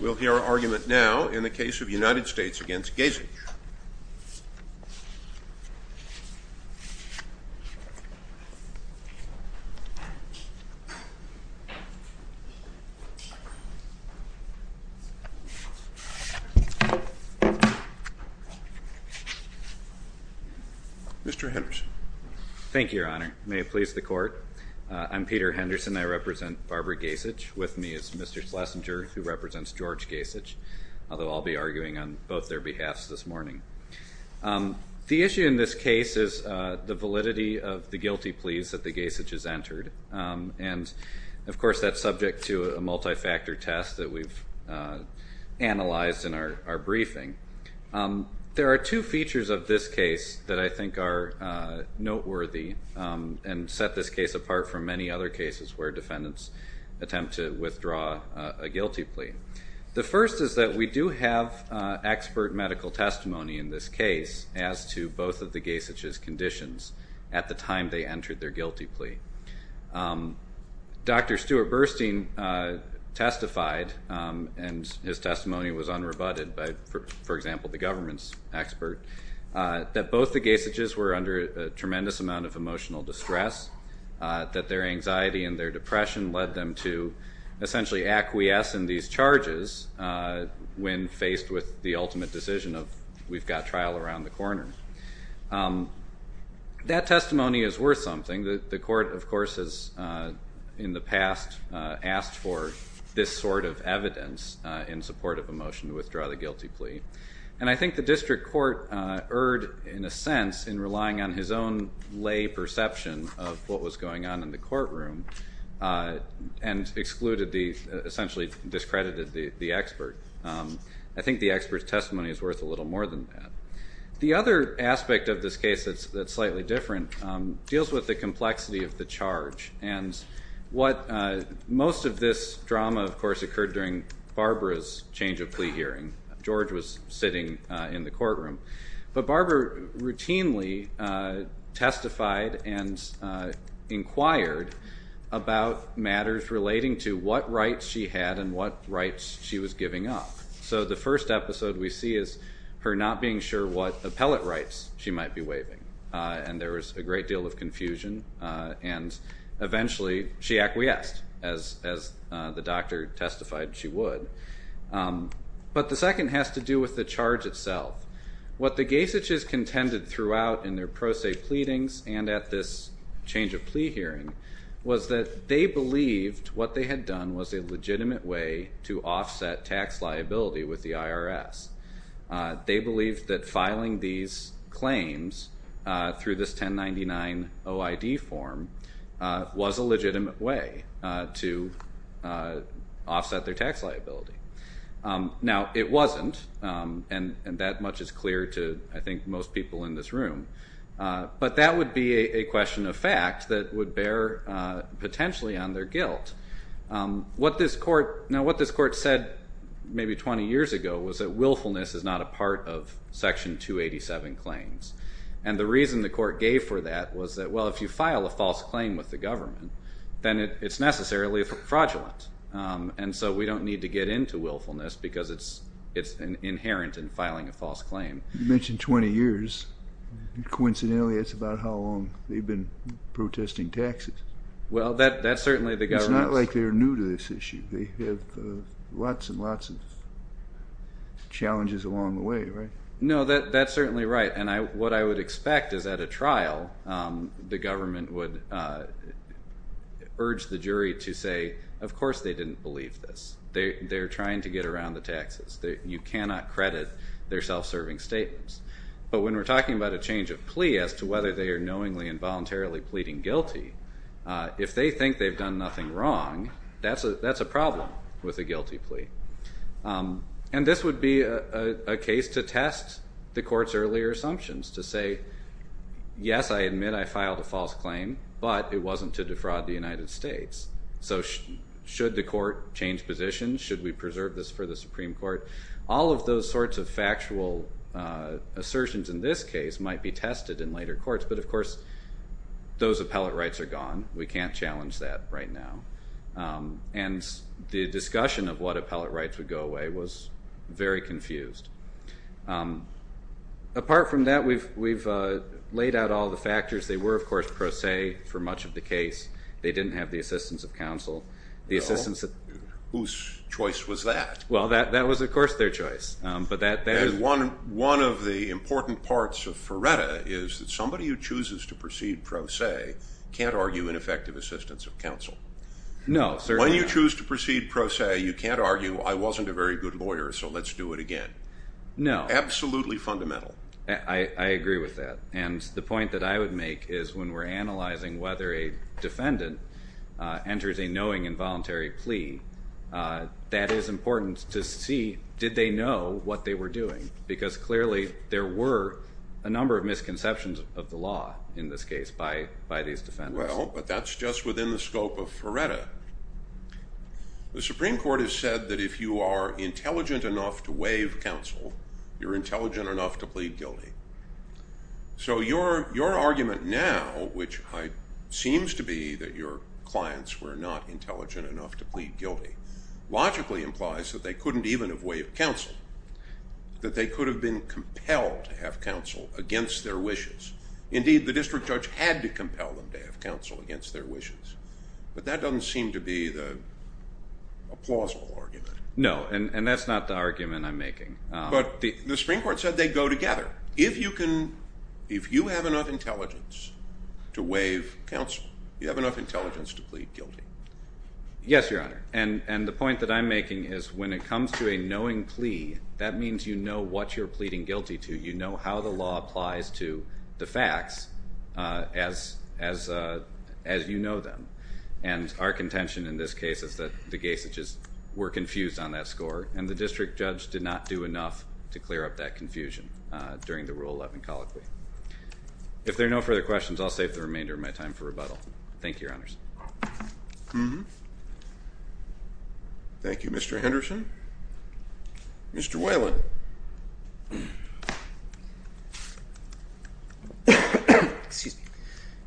We'll hear our argument now in the case of United States v. Gasich. Mr. Henderson. Thank you, Your Honor. May it please the Court. I'm Peter Henderson. I represent Barbara Gasich. With me is Mr. Schlesinger, who represents George Gasich, although I'll be arguing on both their behalves this morning. The issue in this case is the validity of the guilty pleas that the Gasich has entered, and, of course, that's subject to a multifactor test that we've analyzed in our briefing. There are two features of this case that I think are noteworthy and set this case apart from many other cases where defendants attempt to withdraw a guilty plea. The first is that we do have expert medical testimony in this case as to both of the Gasich's conditions at the time they entered their guilty plea. Dr. Stuart Burstein testified, and his testimony was unrebutted by, for example, the government's expert, that both the Gasich's were under a tremendous amount of emotional distress, that their anxiety and their depression led them to essentially acquiesce in these charges when faced with the ultimate decision of, we've got trial around the corner. That testimony is worth something. The Court, of course, has in the past asked for this sort of evidence in support of a motion to withdraw the guilty plea. And I think the district court erred, in a sense, in relying on his own lay perception of what was going on in the courtroom and excluded the, essentially discredited the expert. I think the expert's testimony is worth a little more than that. The other aspect of this case that's slightly different deals with the complexity of the charge. And what most of this drama, of course, occurred during Barbara's change of plea hearing. George was sitting in the courtroom. But Barbara routinely testified and inquired about matters relating to what rights she had and what rights she was giving up. So the first episode we see is her not being sure what appellate rights she might be waiving. And there was a great deal of confusion, and eventually she acquiesced, as the doctor testified she would. But the second has to do with the charge itself. What the Gesich's contended throughout in their pro se pleadings and at this change of plea hearing was that they believed what they had done was a legitimate way to offset tax liability with the IRS. They believed that filing these claims through this 1099 OID form was a legitimate way to offset their tax liability. Now, it wasn't, and that much is clear to, I think, most people in this room. But that would be a question of fact that would bear potentially on their guilt. Now, what this court said maybe 20 years ago was that willfulness is not a part of Section 287 claims. And the reason the court gave for that was that, well, if you file a false claim with the government, then it's necessarily fraudulent. And so we don't need to get into willfulness because it's inherent in filing a false claim. You mentioned 20 years. Coincidentally, it's about how long they've been protesting taxes. Well, that's certainly the government's. It's not like they're new to this issue. They have lots and lots of challenges along the way, right? No, that's certainly right. And what I would expect is at a trial, the government would urge the jury to say, of course they didn't believe this. They're trying to get around the taxes. You cannot credit their self-serving statements. But when we're talking about a change of plea as to whether they are knowingly and voluntarily pleading guilty, if they think they've done nothing wrong, that's a problem with a guilty plea. And this would be a case to test the court's earlier assumptions, to say, yes, I admit I filed a false claim, but it wasn't to defraud the United States. So should the court change positions? Should we preserve this for the Supreme Court? All of those sorts of factual assertions in this case might be tested in later courts. But, of course, those appellate rights are gone. We can't challenge that right now. And the discussion of what appellate rights would go away was very confused. Apart from that, we've laid out all the factors. They were, of course, pro se for much of the case. They didn't have the assistance of counsel. Whose choice was that? Well, that was, of course, their choice. One of the important parts of Ferretta is that somebody who chooses to proceed pro se can't argue an effective assistance of counsel. No, certainly not. When you choose to proceed pro se, you can't argue, I wasn't a very good lawyer, so let's do it again. No. Absolutely fundamental. I agree with that. And the point that I would make is when we're analyzing whether a defendant enters a knowing and voluntary plea, that is important to see, did they know what they were doing? Because, clearly, there were a number of misconceptions of the law in this case by these defendants. Well, but that's just within the scope of Ferretta. The Supreme Court has said that if you are intelligent enough to waive counsel, you're intelligent enough to plead guilty. So your argument now, which seems to be that your clients were not intelligent enough to plead guilty, logically implies that they couldn't even have waived counsel, that they could have been compelled to have counsel against their wishes. Indeed, the district judge had to compel them to have counsel against their wishes. But that doesn't seem to be a plausible argument. No, and that's not the argument I'm making. But the Supreme Court said they'd go together. If you have enough intelligence to waive counsel, you have enough intelligence to plead guilty. Yes, Your Honor. And the point that I'm making is when it comes to a knowing plea, that means you know what you're pleading guilty to. You know how the law applies to the facts as you know them. And our contention in this case is that the Gaysages were confused on that score, and the district judge did not do enough to clear up that confusion during the Rule 11 colloquy. If there are no further questions, I'll save the remainder of my time for rebuttal. Thank you, Your Honors. Thank you, Mr. Henderson. Mr. Whalen.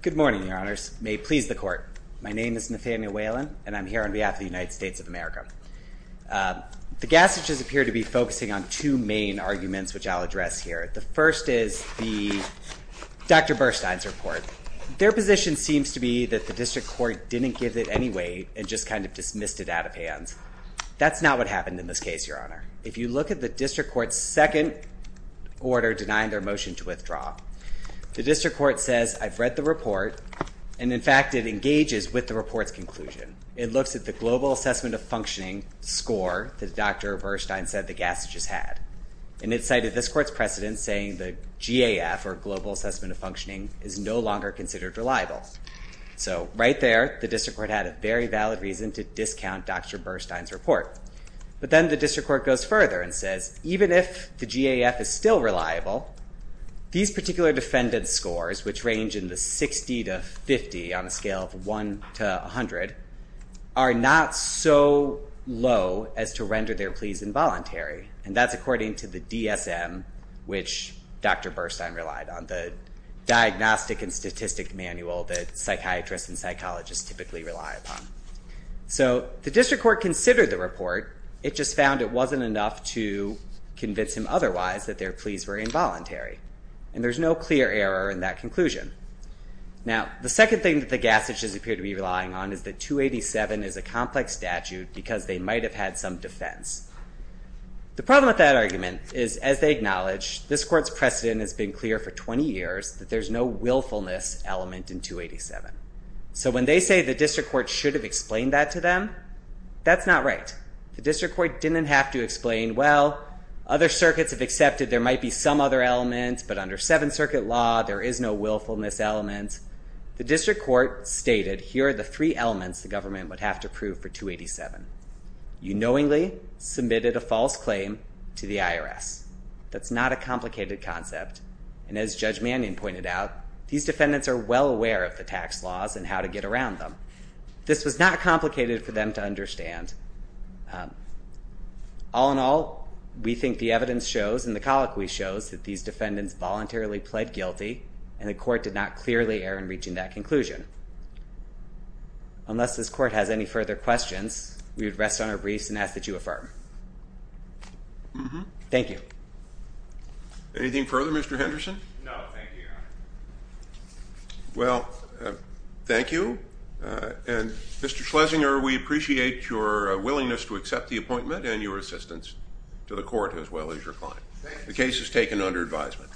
Good morning, Your Honors. May it please the Court. My name is Nathaniel Whalen, and I'm here on behalf of the United States of America. The Gaysages appear to be focusing on two main arguments, which I'll address here. The first is Dr. Bernstein's report. Their position seems to be that the district court didn't give it any weight and just kind of dismissed it out of hands. That's not what happened in this case, Your Honor. If you look at the district court's second order denying their motion to withdraw, the district court says, I've read the report, and, in fact, it engages with the report's conclusion. It looks at the global assessment of functioning score that Dr. Bernstein said the Gaysages had, and it cited this court's precedent saying the GAF, or global assessment of functioning, is no longer considered reliable. So right there, the district court had a very valid reason to discount Dr. Bernstein's report. But then the district court goes further and says, even if the GAF is still reliable, these particular defendant scores, which range in the 60 to 50 on a scale of 1 to 100, are not so low as to render their pleas involuntary. And that's according to the DSM, which Dr. Bernstein relied on, the Diagnostic and Statistic Manual that psychiatrists and psychologists typically rely upon. So the district court considered the report. It just found it wasn't enough to convince him otherwise that their pleas were involuntary. And there's no clear error in that conclusion. Now, the second thing that the Gaysages appear to be relying on is that 287 is a complex statute because they might have had some defense. The problem with that argument is, as they acknowledge, this court's precedent has been clear for 20 years that there's no willfulness element in 287. So when they say the district court should have explained that to them, that's not right. The district court didn't have to explain, well, other circuits have accepted there might be some other element, but under Seventh Circuit law, there is no willfulness element. The district court stated, here are the three elements the government would have to prove for 287. You knowingly submitted a false claim to the IRS. That's not a complicated concept. And as Judge Mannion pointed out, these defendants are well aware of the tax laws and how to get around them. This was not complicated for them to understand. All in all, we think the evidence shows and the colloquy shows that these defendants voluntarily pled guilty, and the court did not clearly err in reaching that conclusion. Unless this court has any further questions, we would rest on our briefs and ask that you affirm. Thank you. Anything further, Mr. Henderson? No, thank you, Your Honor. Well, thank you, and Mr. Schlesinger, we appreciate your willingness to accept the appointment and your assistance to the court as well as your client. The case is taken under advisement.